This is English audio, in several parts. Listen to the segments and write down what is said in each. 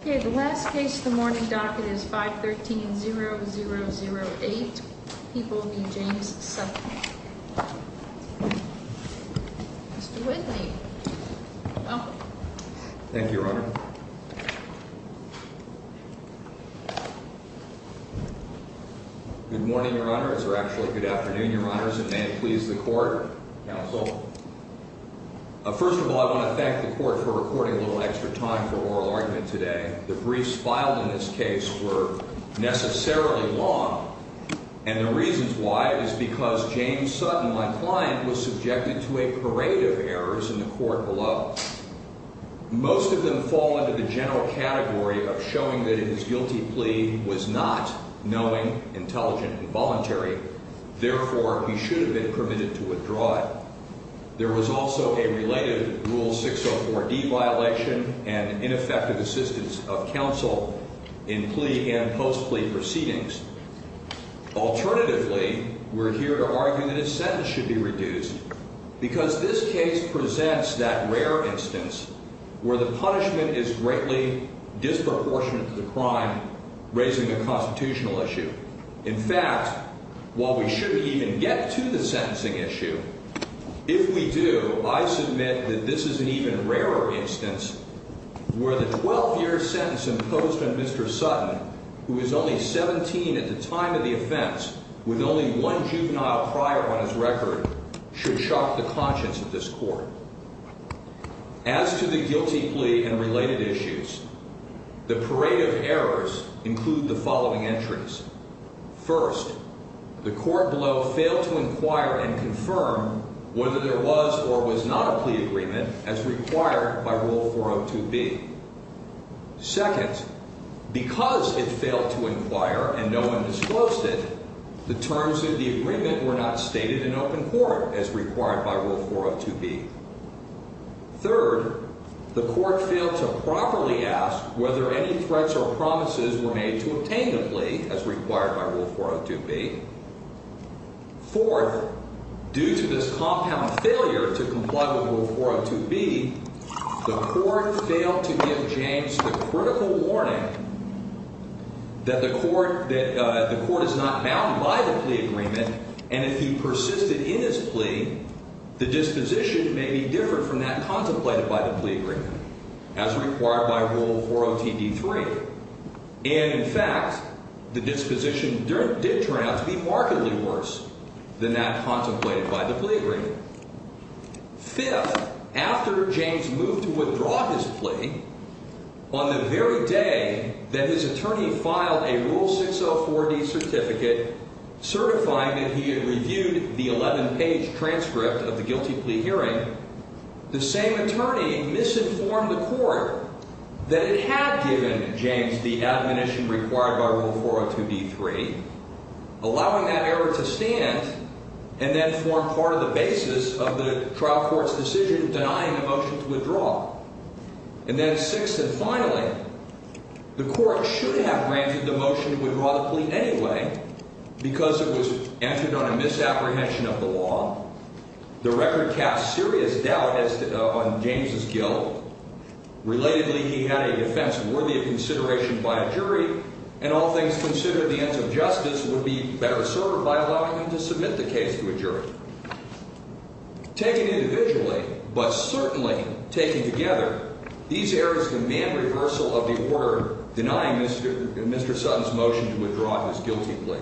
Okay, the last case in the morning docket is 513-0008. People v. James Sutton. Mr. Whitley. Thank you, Your Honor. Good morning, Your Honor, or actually good afternoon, Your Honors, and may it please the Court, Counsel. First of all, I want to thank the Court for recording a little extra time for oral argument today. The briefs filed in this case were necessarily long, and the reasons why is because James Sutton, my client, was subjected to a parade of errors in the Court below. Most of them fall into the general category of showing that his guilty plea was not knowing, intelligent, and voluntary. Therefore, he should have been permitted to withdraw it. There was also a related Rule 604D violation and ineffective assistance of counsel in plea and post-plea proceedings. Alternatively, we're here to argue that his sentence should be reduced because this case presents that rare instance where the punishment is greatly disproportionate to the crime, raising a constitutional issue. In fact, while we shouldn't even get to the sentencing issue, if we do, I submit that this is an even rarer instance where the 12-year sentence imposed on Mr. Sutton, who is only 17 at the time of the offense, with only one juvenile prior on his record, should shock the conscience of this Court. As to the guilty plea and related issues, the parade of errors include the following entries. First, the Court below failed to inquire and confirm whether there was or was not a plea agreement as required by Rule 402B. Second, because it failed to inquire and no one disclosed it, the terms of the agreement were not stated in open court as required by Rule 402B. Third, the Court failed to properly ask whether any threats or promises were made to obtain the plea as required by Rule 402B. Fourth, due to this compound failure to comply with Rule 402B, the Court failed to give James the critical warning that the Court is not bound by the plea agreement, and if he persisted in his plea, the disposition may be different from that contemplated by the plea agreement as required by Rule 402B. And, in fact, the disposition did turn out to be markedly worse than that contemplated by the plea agreement. Fifth, after James moved to withdraw his plea, on the very day that his attorney filed a Rule 604D certificate certifying that he had reviewed the 11-page transcript of the guilty plea hearing, the same attorney misinformed the Court that it had given James the admonition required by Rule 402B.3, allowing that error to stand and then form part of the basis of the trial court's decision denying the motion to withdraw. And then, sixth and finally, the Court should have granted the motion to withdraw the plea anyway because it was answered on a misapprehension of the law. The record caps serious doubt on James' guilt. Relatedly, he had a defense worthy of consideration by a jury, and all things considered, the ends of justice would be better served by allowing him to submit the case to a jury. Taken individually, but certainly taken together, these errors demand reversal of the order denying Mr. Sutton's motion to withdraw his guilty plea.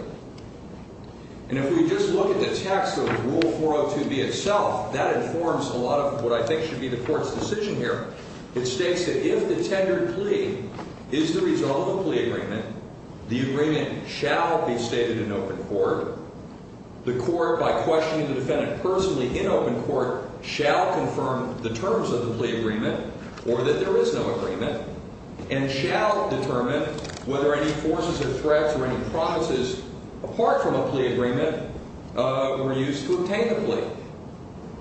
And if we just look at the text of Rule 402B itself, that informs a lot of what I think should be the Court's decision here. It states that if the tendered plea is the result of a plea agreement, the agreement shall be stated in open court. The Court, by questioning the defendant personally in open court, shall confirm the terms of the plea agreement or that there is no agreement, and shall determine whether any forces or threats or any promises apart from a plea agreement were used to obtain the plea.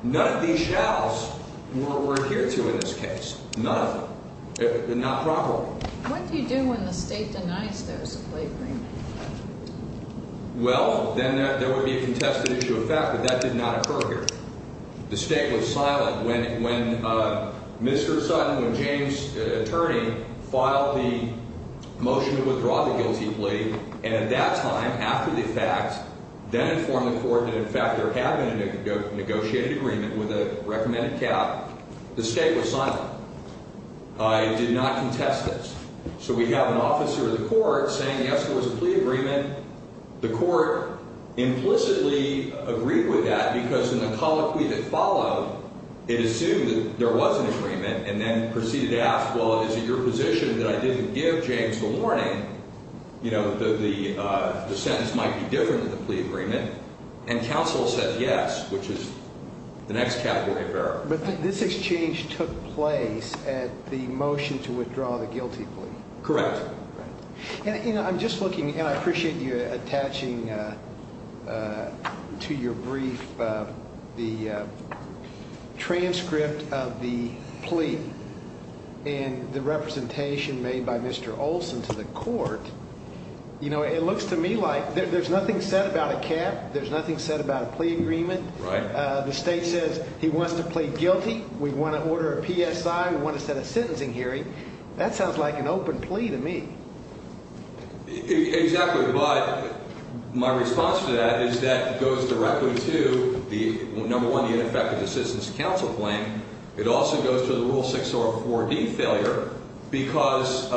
None of these shalls were adhered to in this case. None of them. Not properly. What do you do when the State denies there's a plea agreement? Well, then there would be a contested issue of fact, but that did not occur here. The State was silent when Mr. Sutton, when James, the attorney, filed the motion to withdraw the guilty plea, and at that time, after the fact, then informed the Court that in fact there had been a negotiated agreement with a recommended cap. The State was silent. It did not contest this. So we have an officer of the Court saying, yes, there was a plea agreement. And the Court implicitly agreed with that because in the colloquy that followed, it assumed that there was an agreement and then proceeded to ask, well, is it your position that I didn't give James the warning, you know, that the sentence might be different in the plea agreement? And counsel said yes, which is the next category of error. But this exchange took place at the motion to withdraw the guilty plea. Correct. And, you know, I'm just looking, and I appreciate you attaching to your brief the transcript of the plea and the representation made by Mr. Olson to the Court. You know, it looks to me like there's nothing said about a cap. There's nothing said about a plea agreement. Right. The State says he wants to plead guilty. We want to order a PSI. We want to set a sentencing hearing. That sounds like an open plea to me. Exactly. But my response to that is that it goes directly to, number one, the ineffective assistance to counsel claim. It also goes to the Rule 604D failure because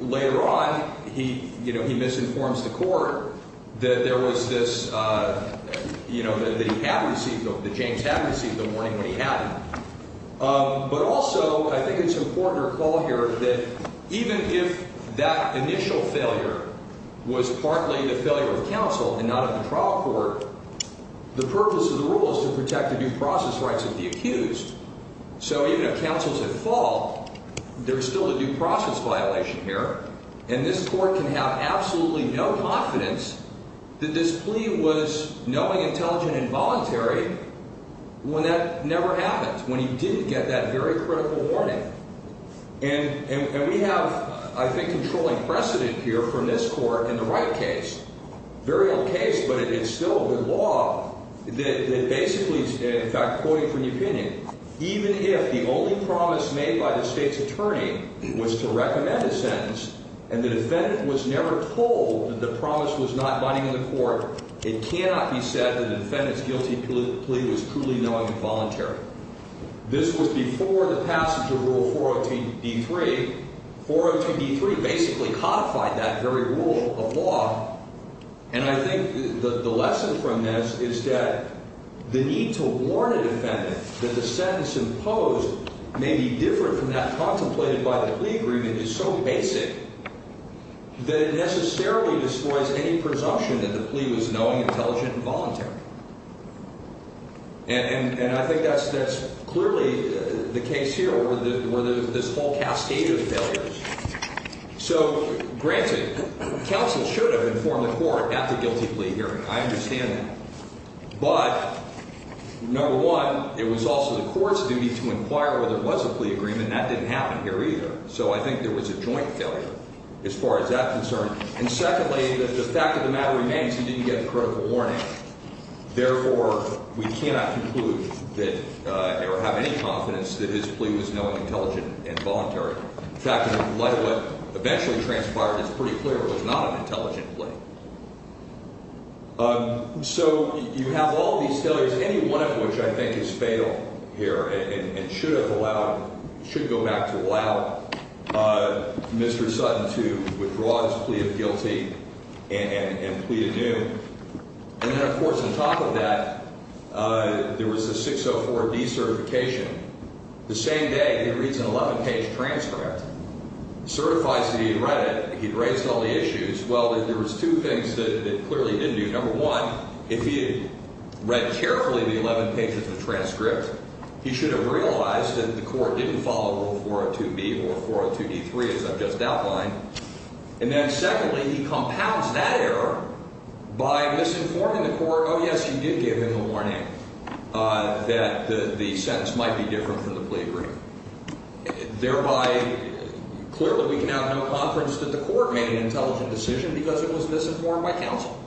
later on he, you know, he misinforms the Court that there was this, you know, that he had received, that James had received the warning when he had it. But also I think it's important to recall here that even if that initial failure was partly the failure of counsel and not of the trial court, the purpose of the rule is to protect the due process rights of the accused. So even if counsel's at fault, there's still a due process violation here, and this Court can have absolutely no confidence that this plea was knowing, intelligent, and voluntary when that never happened, when he didn't get that very critical warning. And we have, I think, controlling precedent here from this Court in the Wright case. Very old case, but it is still a good law that basically, in fact, quoting from the opinion, even if the only promise made by the State's attorney was to recommend a sentence and the defendant was never told that the promise was not binding on the Court, it cannot be said that the defendant's guilty plea was truly knowing and voluntary. This was before the passage of Rule 402-D3. 402-D3 basically codified that very rule of law, and I think the lesson from this is that the need to warn a defendant that the sentence imposed may be different from that contemplated by the plea agreement is so basic that it necessarily destroys any presumption that the plea was knowing, intelligent, and voluntary. And I think that's clearly the case here, where this whole cascade of failures. So, granted, counsel should have informed the Court at the guilty plea hearing. I understand that. But, number one, it was also the Court's duty to inquire whether there was a plea agreement, and that didn't happen here either. So I think there was a joint failure as far as that's concerned. And, secondly, the fact of the matter remains he didn't get a critical warning. Therefore, we cannot conclude that – or have any confidence that his plea was knowing, intelligent, and voluntary. In fact, in light of what eventually transpired, it's pretty clear it was not an intelligent plea. So you have all these failures, any one of which I think is fatal here and should have allowed – should go back to allow Mr. Sutton to withdraw his plea of guilty and plea adieu. And then, of course, on top of that, there was the 604D certification. The same day, he reads an 11-page transcript, certifies that he had read it. He'd raised all the issues. Well, there was two things that clearly he didn't do. Number one, if he had read carefully the 11 pages of the transcript, he should have realized that the Court didn't follow Rule 402B or 402D3, as I've just outlined. And then, secondly, he compounds that error by misinforming the Court, oh, yes, you did give him a warning, that the sentence might be different from the plea agreement. Thereby, clearly, we can have no confidence that the Court made an intelligent decision because it was misinformed by counsel.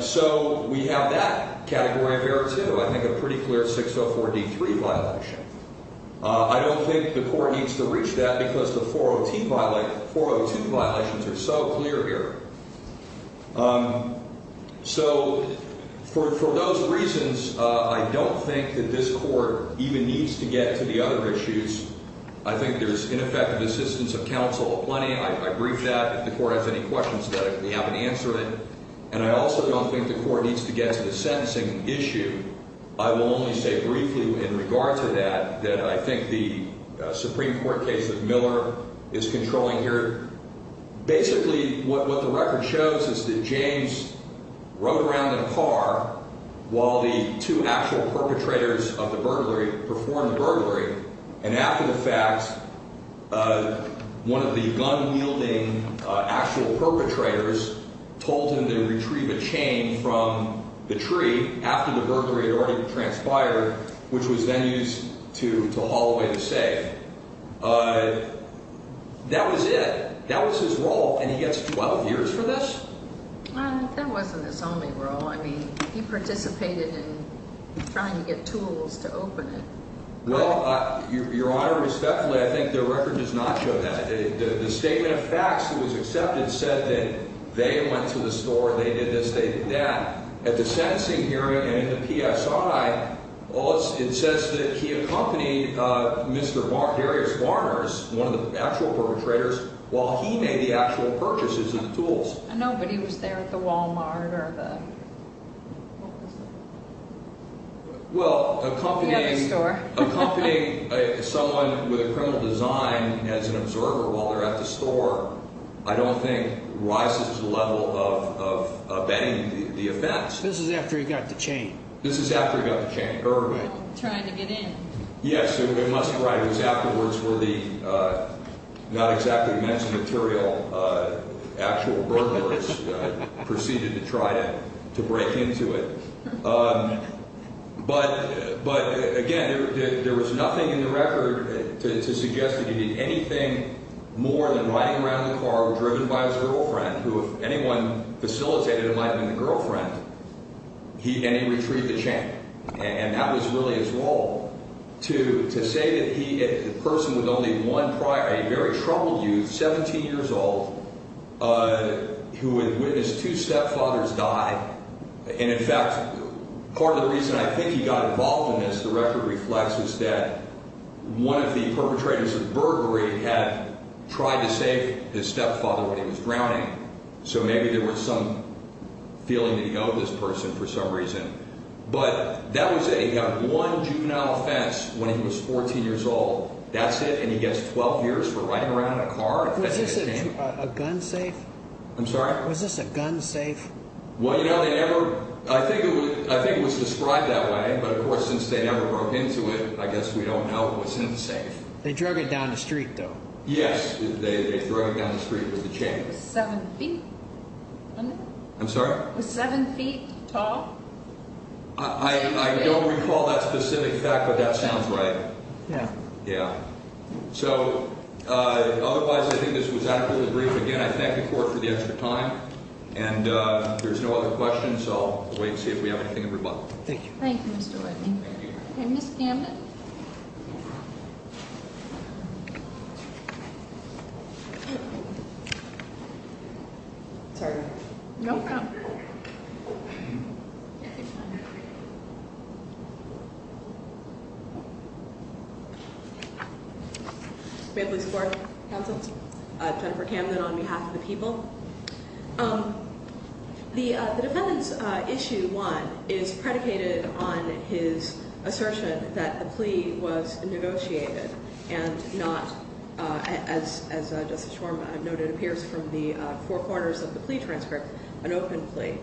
So we have that category of error, too. I think a pretty clear 604D3 violation. I don't think the Court needs to reach that because the 402 violations are so clear here. So for those reasons, I don't think that this Court even needs to get to the other issues. I think there's ineffective assistance of counsel aplenty. I briefed that. If the Court has any questions about it, we have an answer to it. And I also don't think the Court needs to get to the sentencing issue. I will only say briefly in regard to that that I think the Supreme Court case of Miller is controlling here. Basically, what the record shows is that James rode around in a car while the two actual perpetrators of the burglary performed the burglary. And after the fact, one of the gun-wielding actual perpetrators told him to retrieve a chain from the tree after the burglary had already transpired, which was then used to haul away the safe. That was it. That was his role, and he gets 12 years for this? That wasn't his only role. I mean, he participated in trying to get tools to open it. Well, Your Honor, respectfully, I think the record does not show that. The statement of facts that was accepted said that they went to the store, they did this, they did that. At the sentencing hearing and in the PSI, it says that he accompanied Mr. Darius Warners, one of the actual perpetrators, while he made the actual purchases of the tools. I know, but he was there at the Wal-Mart or the what was it? Well, accompanying someone with a criminal design as an observer while they're at the store I don't think rises the level of abetting the offense. This is after he got the chain. This is after he got the chain. Trying to get in. Yes. It must be right. It was afterwards where the not exactly men's material actual burglars proceeded to try to break into it. But, again, there was nothing in the record to suggest that he did anything more than riding around in the car or driven by his girlfriend, who if anyone facilitated it might have been the girlfriend, and he retrieved the chain. And that was really his role, to say that he, the person with only one prior, a very troubled youth, 17 years old, who had witnessed two stepfathers die. And, in fact, part of the reason I think he got involved in this, the record reflects, was that one of the perpetrators of burglary had tried to save his stepfather when he was drowning. So maybe there was some feeling that he owed this person for some reason. But that was it. He got one juvenile offense when he was 14 years old. That's it. And he gets 12 years for riding around in a car and fetching a chain. Was this a gun safe? I'm sorry? Was this a gun safe? Well, you know, they never, I think it was described that way. But, of course, since they never broke into it, I guess we don't know what's in the safe. They drug it down the street, though. Yes. They drug it down the street with the chain. Seven feet? I'm sorry? Was seven feet tall? I don't recall that specific fact, but that sounds right. Yes. Yes. So, otherwise, I think this was adequately brief. Again, I thank the court for the extra time. And there's no other questions, so I'll wait and see if we have anything in rebuttal. Thank you. Thank you, Mr. Whitney. Thank you. Okay. Ms. Gambit? It's all right. It's hard. No. Good morning. Jennifer Gambit on behalf of the people. Um, the defendants issue one is predicated on his assertion that the plea was negotiated and not as, as I've noted appears from the four corners of the plea transcript, an open plea.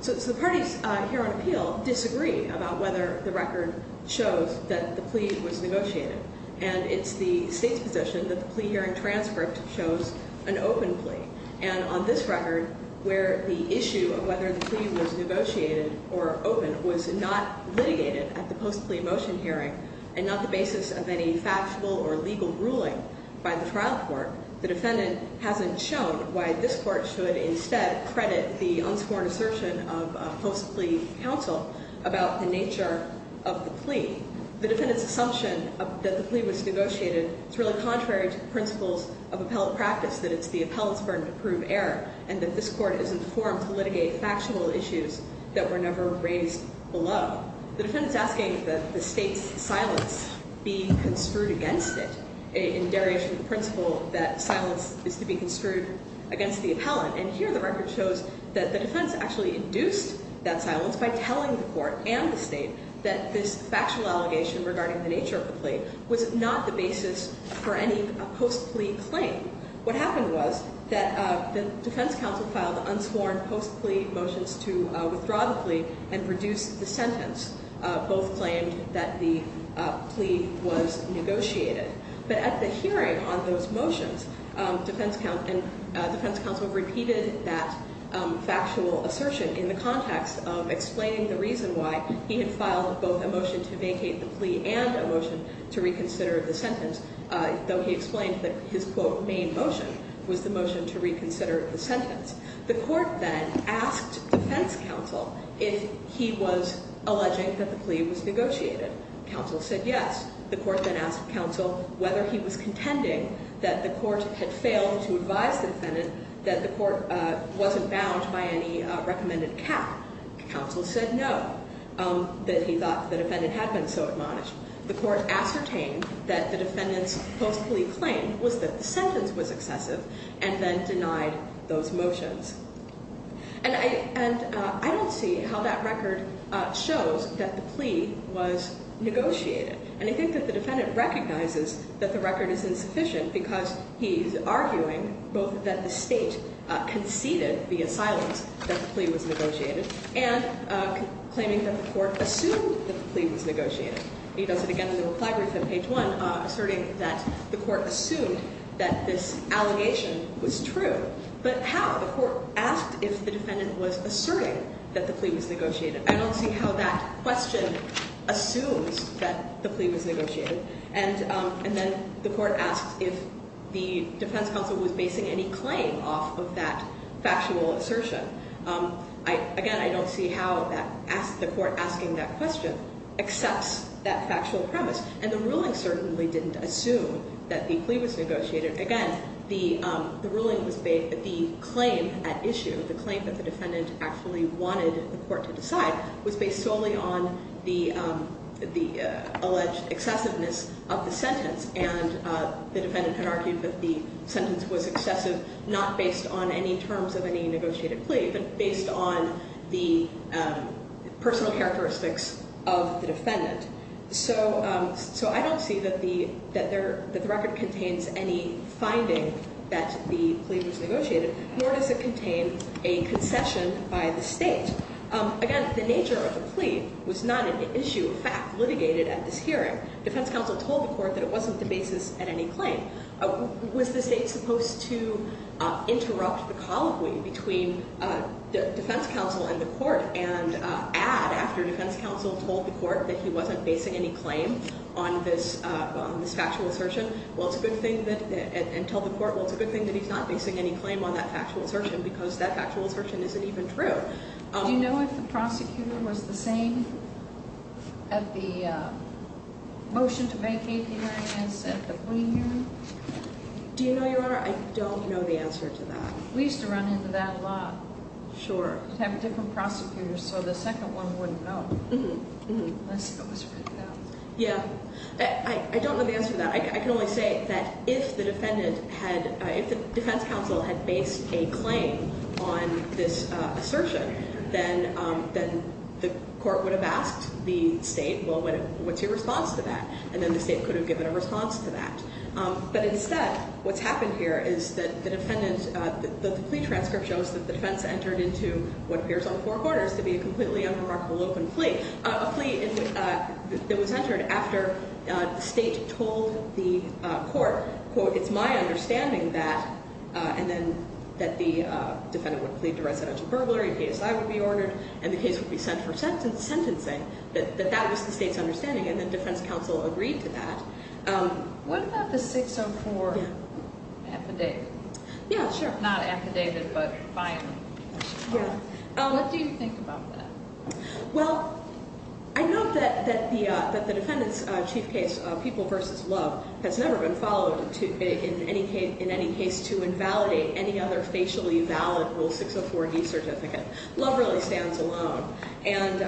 So it's the parties here on appeal disagree about whether the record shows that the plea was negotiated. And it's the state's position that the plea hearing transcript shows an open plea. And on this record, where the issue of whether the plea was negotiated or open was not litigated at the post plea motion hearing, and not the basis of any factual or legal ruling by the trial court. The defendant hasn't shown why this court should instead credit the unsworn assertion of a post plea counsel about the nature of the plea. The defendant's assumption that the plea was negotiated is really contrary to the principles of appellate practice, that it's the appellant's burden to prove error. And that this court is informed to litigate factual issues that were never raised below. The defendant's asking that the state's silence be construed against it in derivation of the principle that silence is to be construed against the appellant. And here the record shows that the defense actually induced that silence by telling the court and the state that this factual allegation regarding the nature of the plea was not the basis for any post plea claim. What happened was that the defense counsel filed unsworn post plea motions to withdraw the plea and reduce the sentence. Both claimed that the plea was negotiated. But at the hearing on those motions, defense counsel repeated that factual assertion in the context of explaining the reason why he had filed both a motion to vacate the plea and a motion to reconsider the sentence. Though he explained that his quote main motion was the motion to reconsider the sentence. The court then asked defense counsel if he was alleging that the plea was negotiated. Counsel said yes. The court then asked counsel whether he was contending that the court had failed to advise the defendant that the court wasn't bound by any recommended cap. Counsel said no, that he thought the defendant had been so admonished. The court ascertained that the defendant's post plea claim was that the sentence was excessive and then denied those motions. And I don't see how that record shows that the plea was negotiated. And I think that the defendant recognizes that the record is insufficient because he's arguing both that the state conceded via silence that the plea was negotiated and claiming that the court assumed that the plea was negotiated. He does it again in the reply brief on page one, asserting that the court assumed that this allegation was true. But how? The court asked if the defendant was asserting that the plea was negotiated. I don't see how that question assumes that the plea was negotiated. And then the court asked if the defense counsel was basing any claim off of that factual assertion. Again, I don't see how the court asking that question accepts that factual premise. And the ruling certainly didn't assume that the plea was negotiated. Again, the ruling was made that the claim at issue, the claim that the defendant actually wanted the court to decide, was based solely on the alleged excessiveness of the sentence. And the defendant had argued that the sentence was excessive not based on any terms of any negotiated plea, but based on the personal characteristics of the defendant. So I don't see that the record contains any finding that the plea was negotiated, nor does it contain a concession by the state. Again, the nature of the plea was not an issue of fact litigated at this hearing. Defense counsel told the court that it wasn't the basis at any claim. Was the state supposed to interrupt the colloquy between defense counsel and the court and add after defense counsel told the court that he wasn't basing any claim on this factual assertion? And tell the court, well, it's a good thing that he's not basing any claim on that factual assertion because that factual assertion isn't even true. Do you know if the prosecutor was the same at the motion to vacate the hearing as at the plea hearing? Do you know, Your Honor? I don't know the answer to that. We used to run into that a lot. Sure. We'd have different prosecutors, so the second one wouldn't know unless it was written out. Yeah. I don't know the answer to that. I can only say that if the defendant had, if the defense counsel had based a claim on this assertion, then the court would have asked the state, well, what's your response to that? And then the state could have given a response to that. But instead, what's happened here is that the defendant, the plea transcript shows that the defense entered into what appears on four quarters to be a completely unremarkable open plea, a plea that was entered after the state told the court, quote, it's my understanding that, and then that the defendant would plead to residential burglary, a PSI would be ordered, and the case would be sent for sentencing, that that was the state's understanding, and then defense counsel agreed to that. What about the 604 affidavit? Yeah, sure. Not affidavit, but filing. Yeah. What do you think about that? Well, I note that the defendant's chief case, People v. Love, has never been followed in any case to invalidate any other facially valid Rule 604D certificate. Love really stands alone. And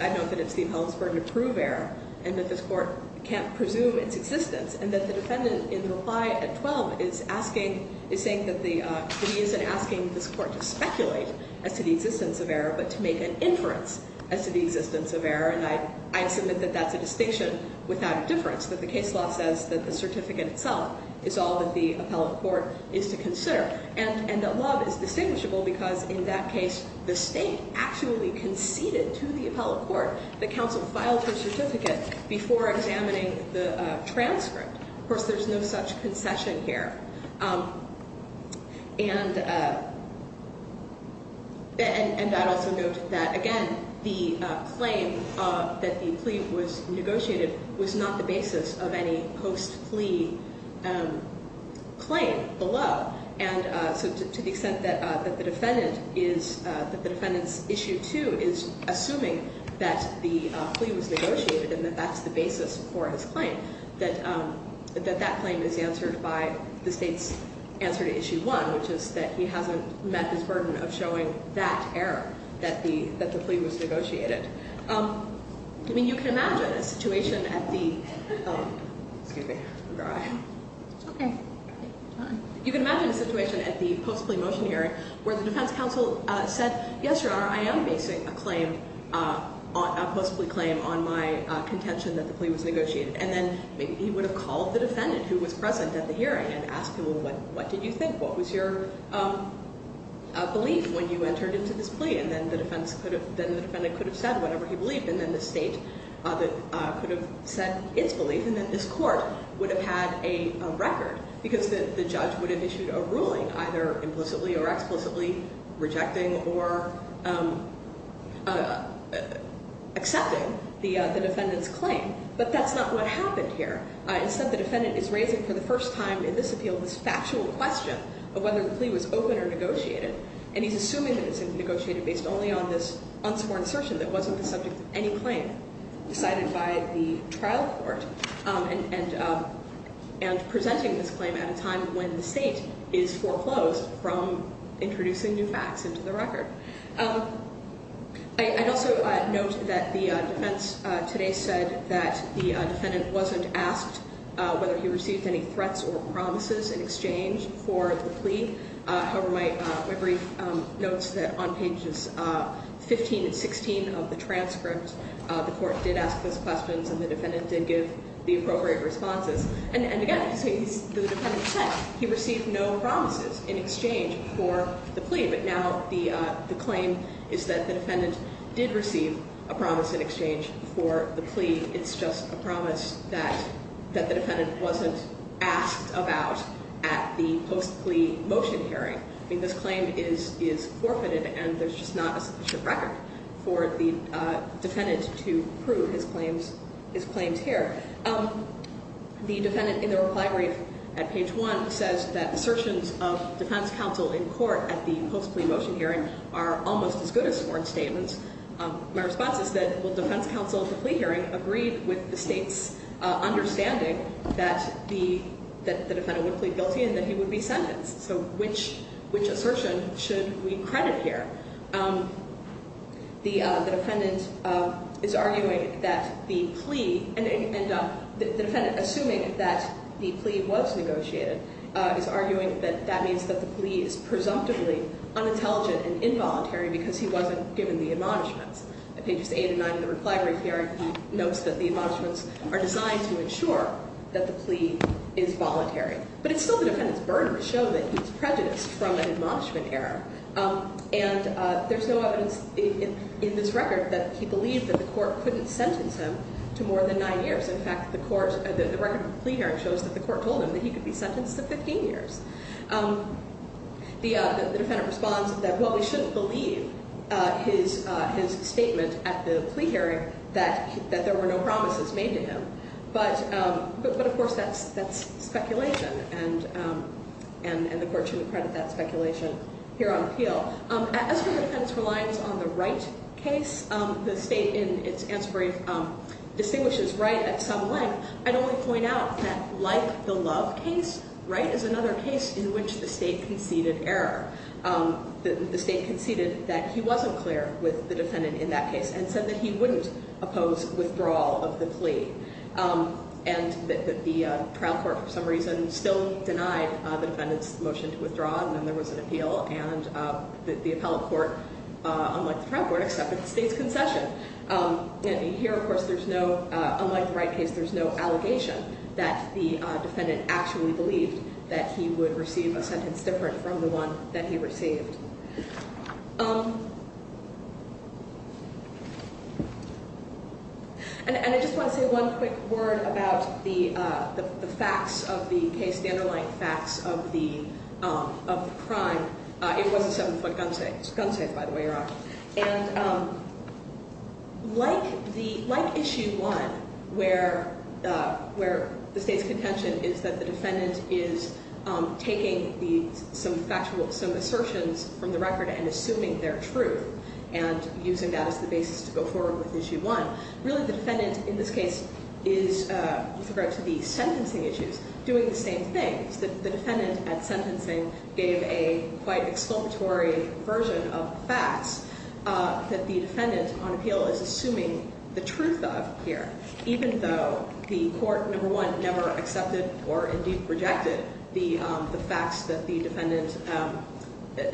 I note that it's the appellant's burden to prove error, and that this court can't presume its existence, and that the defendant in reply at 12 is asking, is saying that the, that he isn't asking this court to speculate as to the existence of error, but to make an inference as to the existence of error, and I, I submit that that's a distinction without a difference, that the case law says that the certificate itself is all that the appellant court is to consider. And, and that Love is distinguishable because in that case, the state actually conceded to the appellant court that counsel filed his certificate before examining the transcript. Of course, there's no such concession here. And, and, and I also note that, again, the claim that the plea was negotiated was not the basis of any post-plea claim below. And so to, to the extent that, that the defendant is, that the defendant's issue two is assuming that the plea was negotiated and that that's the basis for his claim, that, that that claim is answered by the state's answer to issue one, which is that he hasn't met his burden of showing that error, that the, that the plea was negotiated. I mean, you can imagine a situation at the, oh, excuse me. It's okay. You can imagine a situation at the post-plea motion hearing where the defense counsel said, yes, Your Honor, I am basing a claim, a post-plea claim on my contention that the plea was negotiated. And then maybe he would have called the defendant who was present at the hearing and asked him, well, what, what did you think? What was your belief when you entered into this plea? And then the defense could have, then the defendant could have said whatever he believed. And then the state could have said its belief. And then this court would have had a record because the, the judge would have issued a ruling either implicitly or explicitly rejecting or accepting the defendant's claim. But that's not what happened here. Instead, the defendant is raising for the first time in this appeal this factual question of whether the plea was open or negotiated. And he's assuming that it's negotiated based only on this unsporn assertion that wasn't the subject of any claim decided by the trial court. And, and, and presenting this claim at a time when the state is foreclosed from introducing new facts into the record. I, I'd also note that the defense today said that the defendant wasn't asked whether he received any threats or promises in exchange for the plea. However, my, my brief notes that on pages 15 and 16 of the transcript, the court did ask those questions and the defendant did give the appropriate responses. And, and again, the defendant said he received no promises in exchange for the plea. But now the, the claim is that the defendant did receive a promise in exchange for the plea. It's just a promise that, that the defendant wasn't asked about at the post plea motion hearing. I mean this claim is, is forfeited and there's just not a sufficient record for the defendant to prove his claims, his claims here. The defendant in the reply brief at page one says that assertions of defense counsel in court at the post plea motion hearing are almost as good as sworn statements. My response is that will defense counsel at the plea hearing agree with the state's understanding that the, that the defendant would plead guilty and that he would be sentenced. So which, which assertion should we credit here? The, the defendant is arguing that the plea, and, and the defendant assuming that the plea was negotiated is arguing that that means that the plea is presumptively unintelligent and involuntary because he wasn't given the admonishments. At pages eight and nine of the reply brief here, he notes that the admonishments are designed to ensure that the plea is voluntary. But it's still the defendant's burden to show that he was prejudiced from an admonishment error. And there's no evidence in, in this record that he believed that the court couldn't sentence him to more than nine years. In fact, the court, the record of the plea hearing shows that the court told him that he could be sentenced to 15 years. The, the defendant responds that well we shouldn't believe his, his statement at the plea hearing that, that there were no promises made to him. But, but, but of course that's, that's speculation and, and, and the court shouldn't credit that speculation here on appeal. As for the defendant's reliance on the right case, the state in its answer brief distinguishes right at some length. I'd only point out that like the love case, right, is another case in which the state conceded error. The, the state conceded that he wasn't clear with the defendant in that case and said that he wouldn't oppose withdrawal of the plea. And that, that the trial court for some reason still denied the defendant's motion to withdraw. And then there was an appeal and the appellate court, unlike the trial court, accepted the state's concession. And here of course there's no, unlike the right case, there's no allegation that the defendant actually believed that he would receive a sentence that was different from the one that he received. And, and I just want to say one quick word about the, the facts of the case, the underlying facts of the, of the crime. It was a seven foot gun safe, gun safe by the way you're on. And like the, like issue one where, where the state's contention is that the defendant is taking the, some factual, some assertions from the record and assuming they're true. And using that as the basis to go forward with issue one. Really the defendant in this case is, with regard to the sentencing issues, doing the same thing. The defendant at sentencing gave a quite explanatory version of facts that the defendant on appeal is assuming the truth of here. Even though the court, number one, never accepted or indeed rejected the facts that the defendant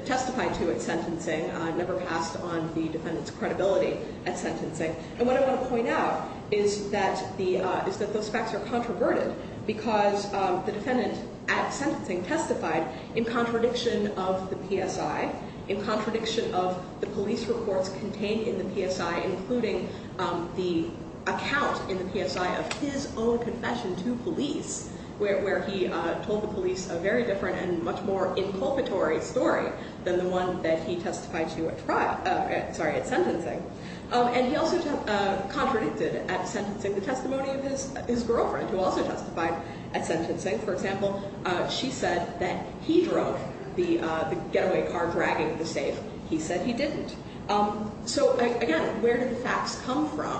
testified to at sentencing, never passed on the defendant's credibility at sentencing. And what I want to point out is that the, is that those facts are controverted because the defendant at sentencing testified in contradiction of the PSI, in contradiction of the police reports contained in the PSI, including the account in the PSI of his own confession to police, where, where he told the police a very different and much more inculpatory story than the one that he testified to at trial, sorry at sentencing. And he also contradicted at sentencing the testimony of his, his girlfriend who also testified at sentencing. For example, she said that he drove the getaway car dragging the safe. He said he didn't. So again, where did the facts come from?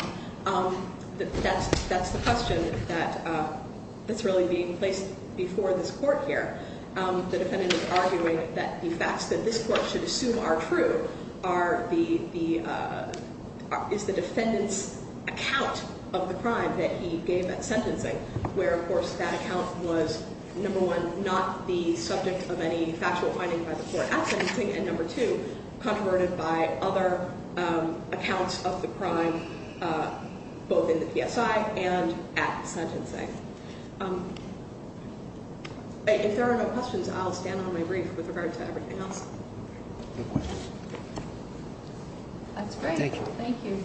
That's, that's the question that, that's really being placed before this court here. The defendant is arguing that the facts that this court should assume are true are the, the, is the defendant's account of the crime that he gave at sentencing where, of course, that account was number one, not the subject of any factual finding by the court at sentencing, and number two, controverted by other accounts of the crime both in the PSI and at sentencing. If there are no questions, I'll stand on my brief with regard to everything else. That's great. Thank you. Thank you.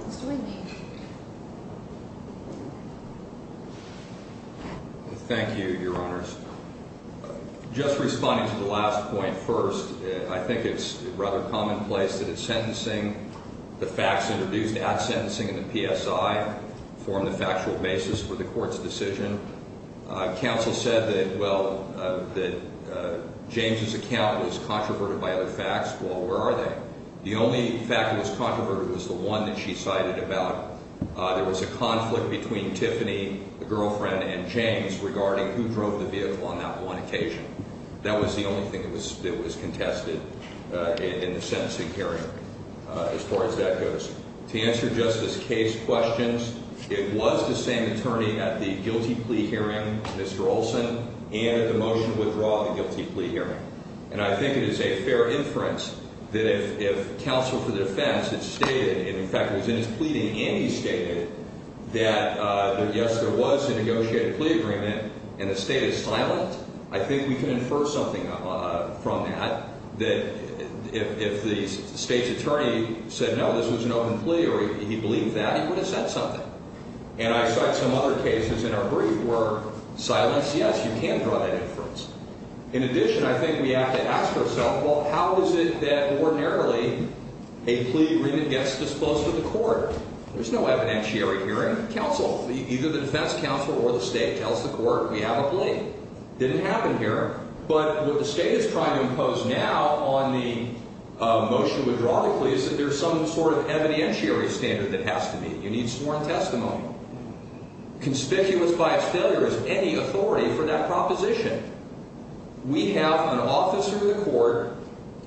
Mr. Whitney. Thank you, Your Honors. Just responding to the last point first, I think it's rather commonplace that at sentencing, the facts introduced at sentencing in the PSI form the factual basis for the court's decision. Counsel said that, well, that James's account was controverted by other facts. Well, where are they? The only fact that was controverted was the one that she cited about there was a conflict between Tiffany, the girlfriend, and James regarding who drove the vehicle on that one occasion. That was the only thing that was contested in the sentencing hearing as far as that goes. To answer Justice Kaye's questions, it was the same attorney at the guilty plea hearing, Mr. Olson, and at the motion to withdraw the guilty plea hearing. And I think it is a fair inference that if counsel for the defense had stated, and in fact was in his pleading and he stated that, yes, there was a negotiated plea agreement and the state is silent, I think we can infer something from that that if the state's attorney said, no, this was an open plea or he believed that, he would have said something. And I cite some other cases in our brief where silence, yes, you can draw that inference. In addition, I think we have to ask ourselves, well, how is it that ordinarily a plea agreement gets disclosed to the court? There's no evidentiary hearing. The defense counsel, either the defense counsel or the state tells the court we have a plea. It didn't happen here. But what the state is trying to impose now on the motion to withdraw the plea is that there's some sort of evidentiary standard that has to be. You need sworn testimony. Conspicuous by its failure is any authority for that proposition. We have an officer in the court,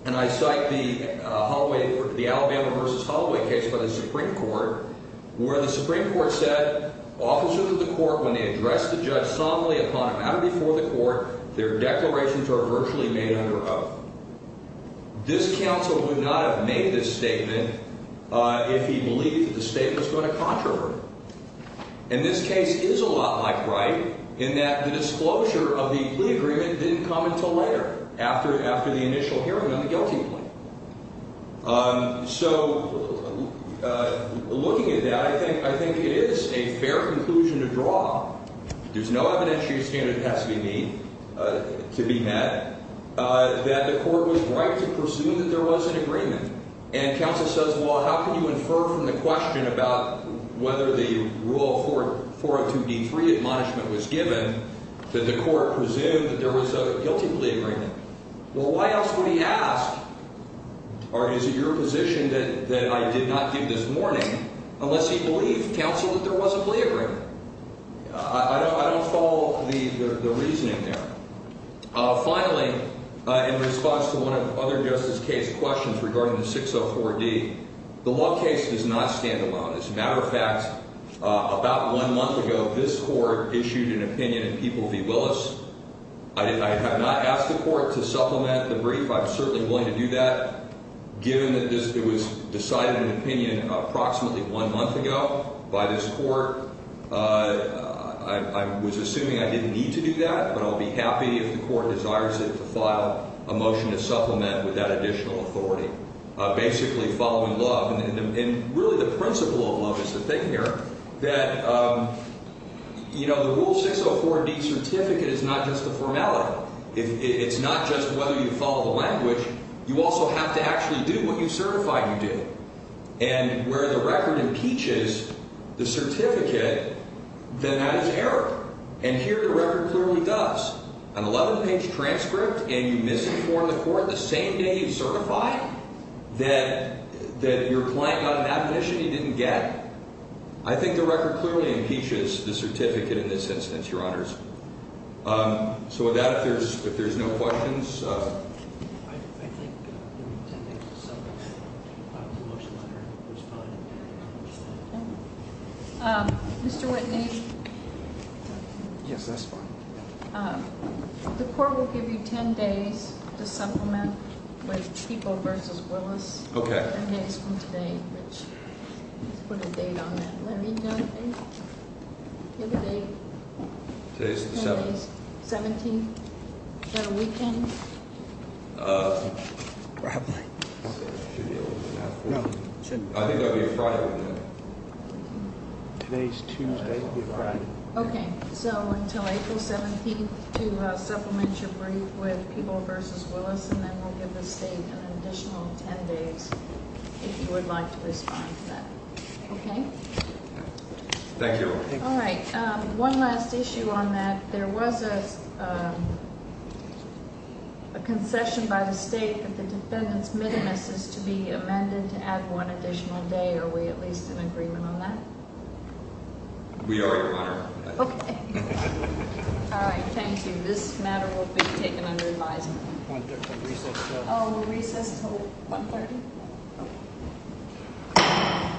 and I cite the Alabama v. Holloway case by the Supreme Court, where the Supreme Court said officers of the court, when they address the judge solemnly upon a matter before the court, their declarations are virtually made under oath. This counsel would not have made this statement if he believed that the state was going to contravert it. And this case is a lot like Wright in that the disclosure of the plea agreement didn't come until later, after the initial hearing on the guilty plea. So looking at that, I think it is a fair conclusion to draw. There's no evidentiary standard that has to be met that the court was right to presume that there was an agreement. And counsel says, well, how can you infer from the question about whether the rule 402D3 admonishment was given that the court presumed that there was a guilty plea agreement? Well, why else would he ask, or is it your position that I did not give this morning, unless he believed, counsel, that there was a plea agreement? I don't follow the reasoning there. Finally, in response to one of the other justice case questions regarding the 604D, the law case does not stand alone. As a matter of fact, about one month ago, this court issued an opinion in People v. Willis. I have not asked the court to supplement the brief. I'm certainly willing to do that, given that it was decided in opinion approximately one month ago by this court. I was assuming I didn't need to do that, but I'll be happy if the court desires it to file a motion to supplement with that additional authority, basically following love. And really the principle of love is the thing here, that, you know, the Rule 604D certificate is not just a formality. It's not just whether you follow the language. You also have to actually do what you certify you did. And where the record impeaches the certificate, then that is error. And here the record clearly does. An 11-page transcript, and you misinform the court the same day you certify that your client got an admission he didn't get? I think the record clearly impeaches the certificate in this instance, Your Honors. So with that, if there's no questions. I think there are 10 minutes to supplement the motion, Your Honor. There's probably not much time. Mr. Whitney? Yes, that's fine. The court will give you 10 days to supplement with People v. Willis. Okay. 10 days from today, which, let's put a date on that. Larry, do you have a date? Give a date. Today's the 17th. 17th. Is that a weekend? Probably. I think that would be a Friday. Today's Tuesday would be a Friday. Okay. So until April 17th to supplement your brief with People v. Willis, and then we'll give the state an additional 10 days if you would like to respond to that. Okay? Thank you. All right. One last issue on that. There was a concession by the state that the defendant's minimus is to be amended to add one additional day. Are we at least in agreement on that? We are, Your Honor. Okay. All right. Thank you. This matter will be taken under advisement. Recess until? Recess until 1.30. Okay.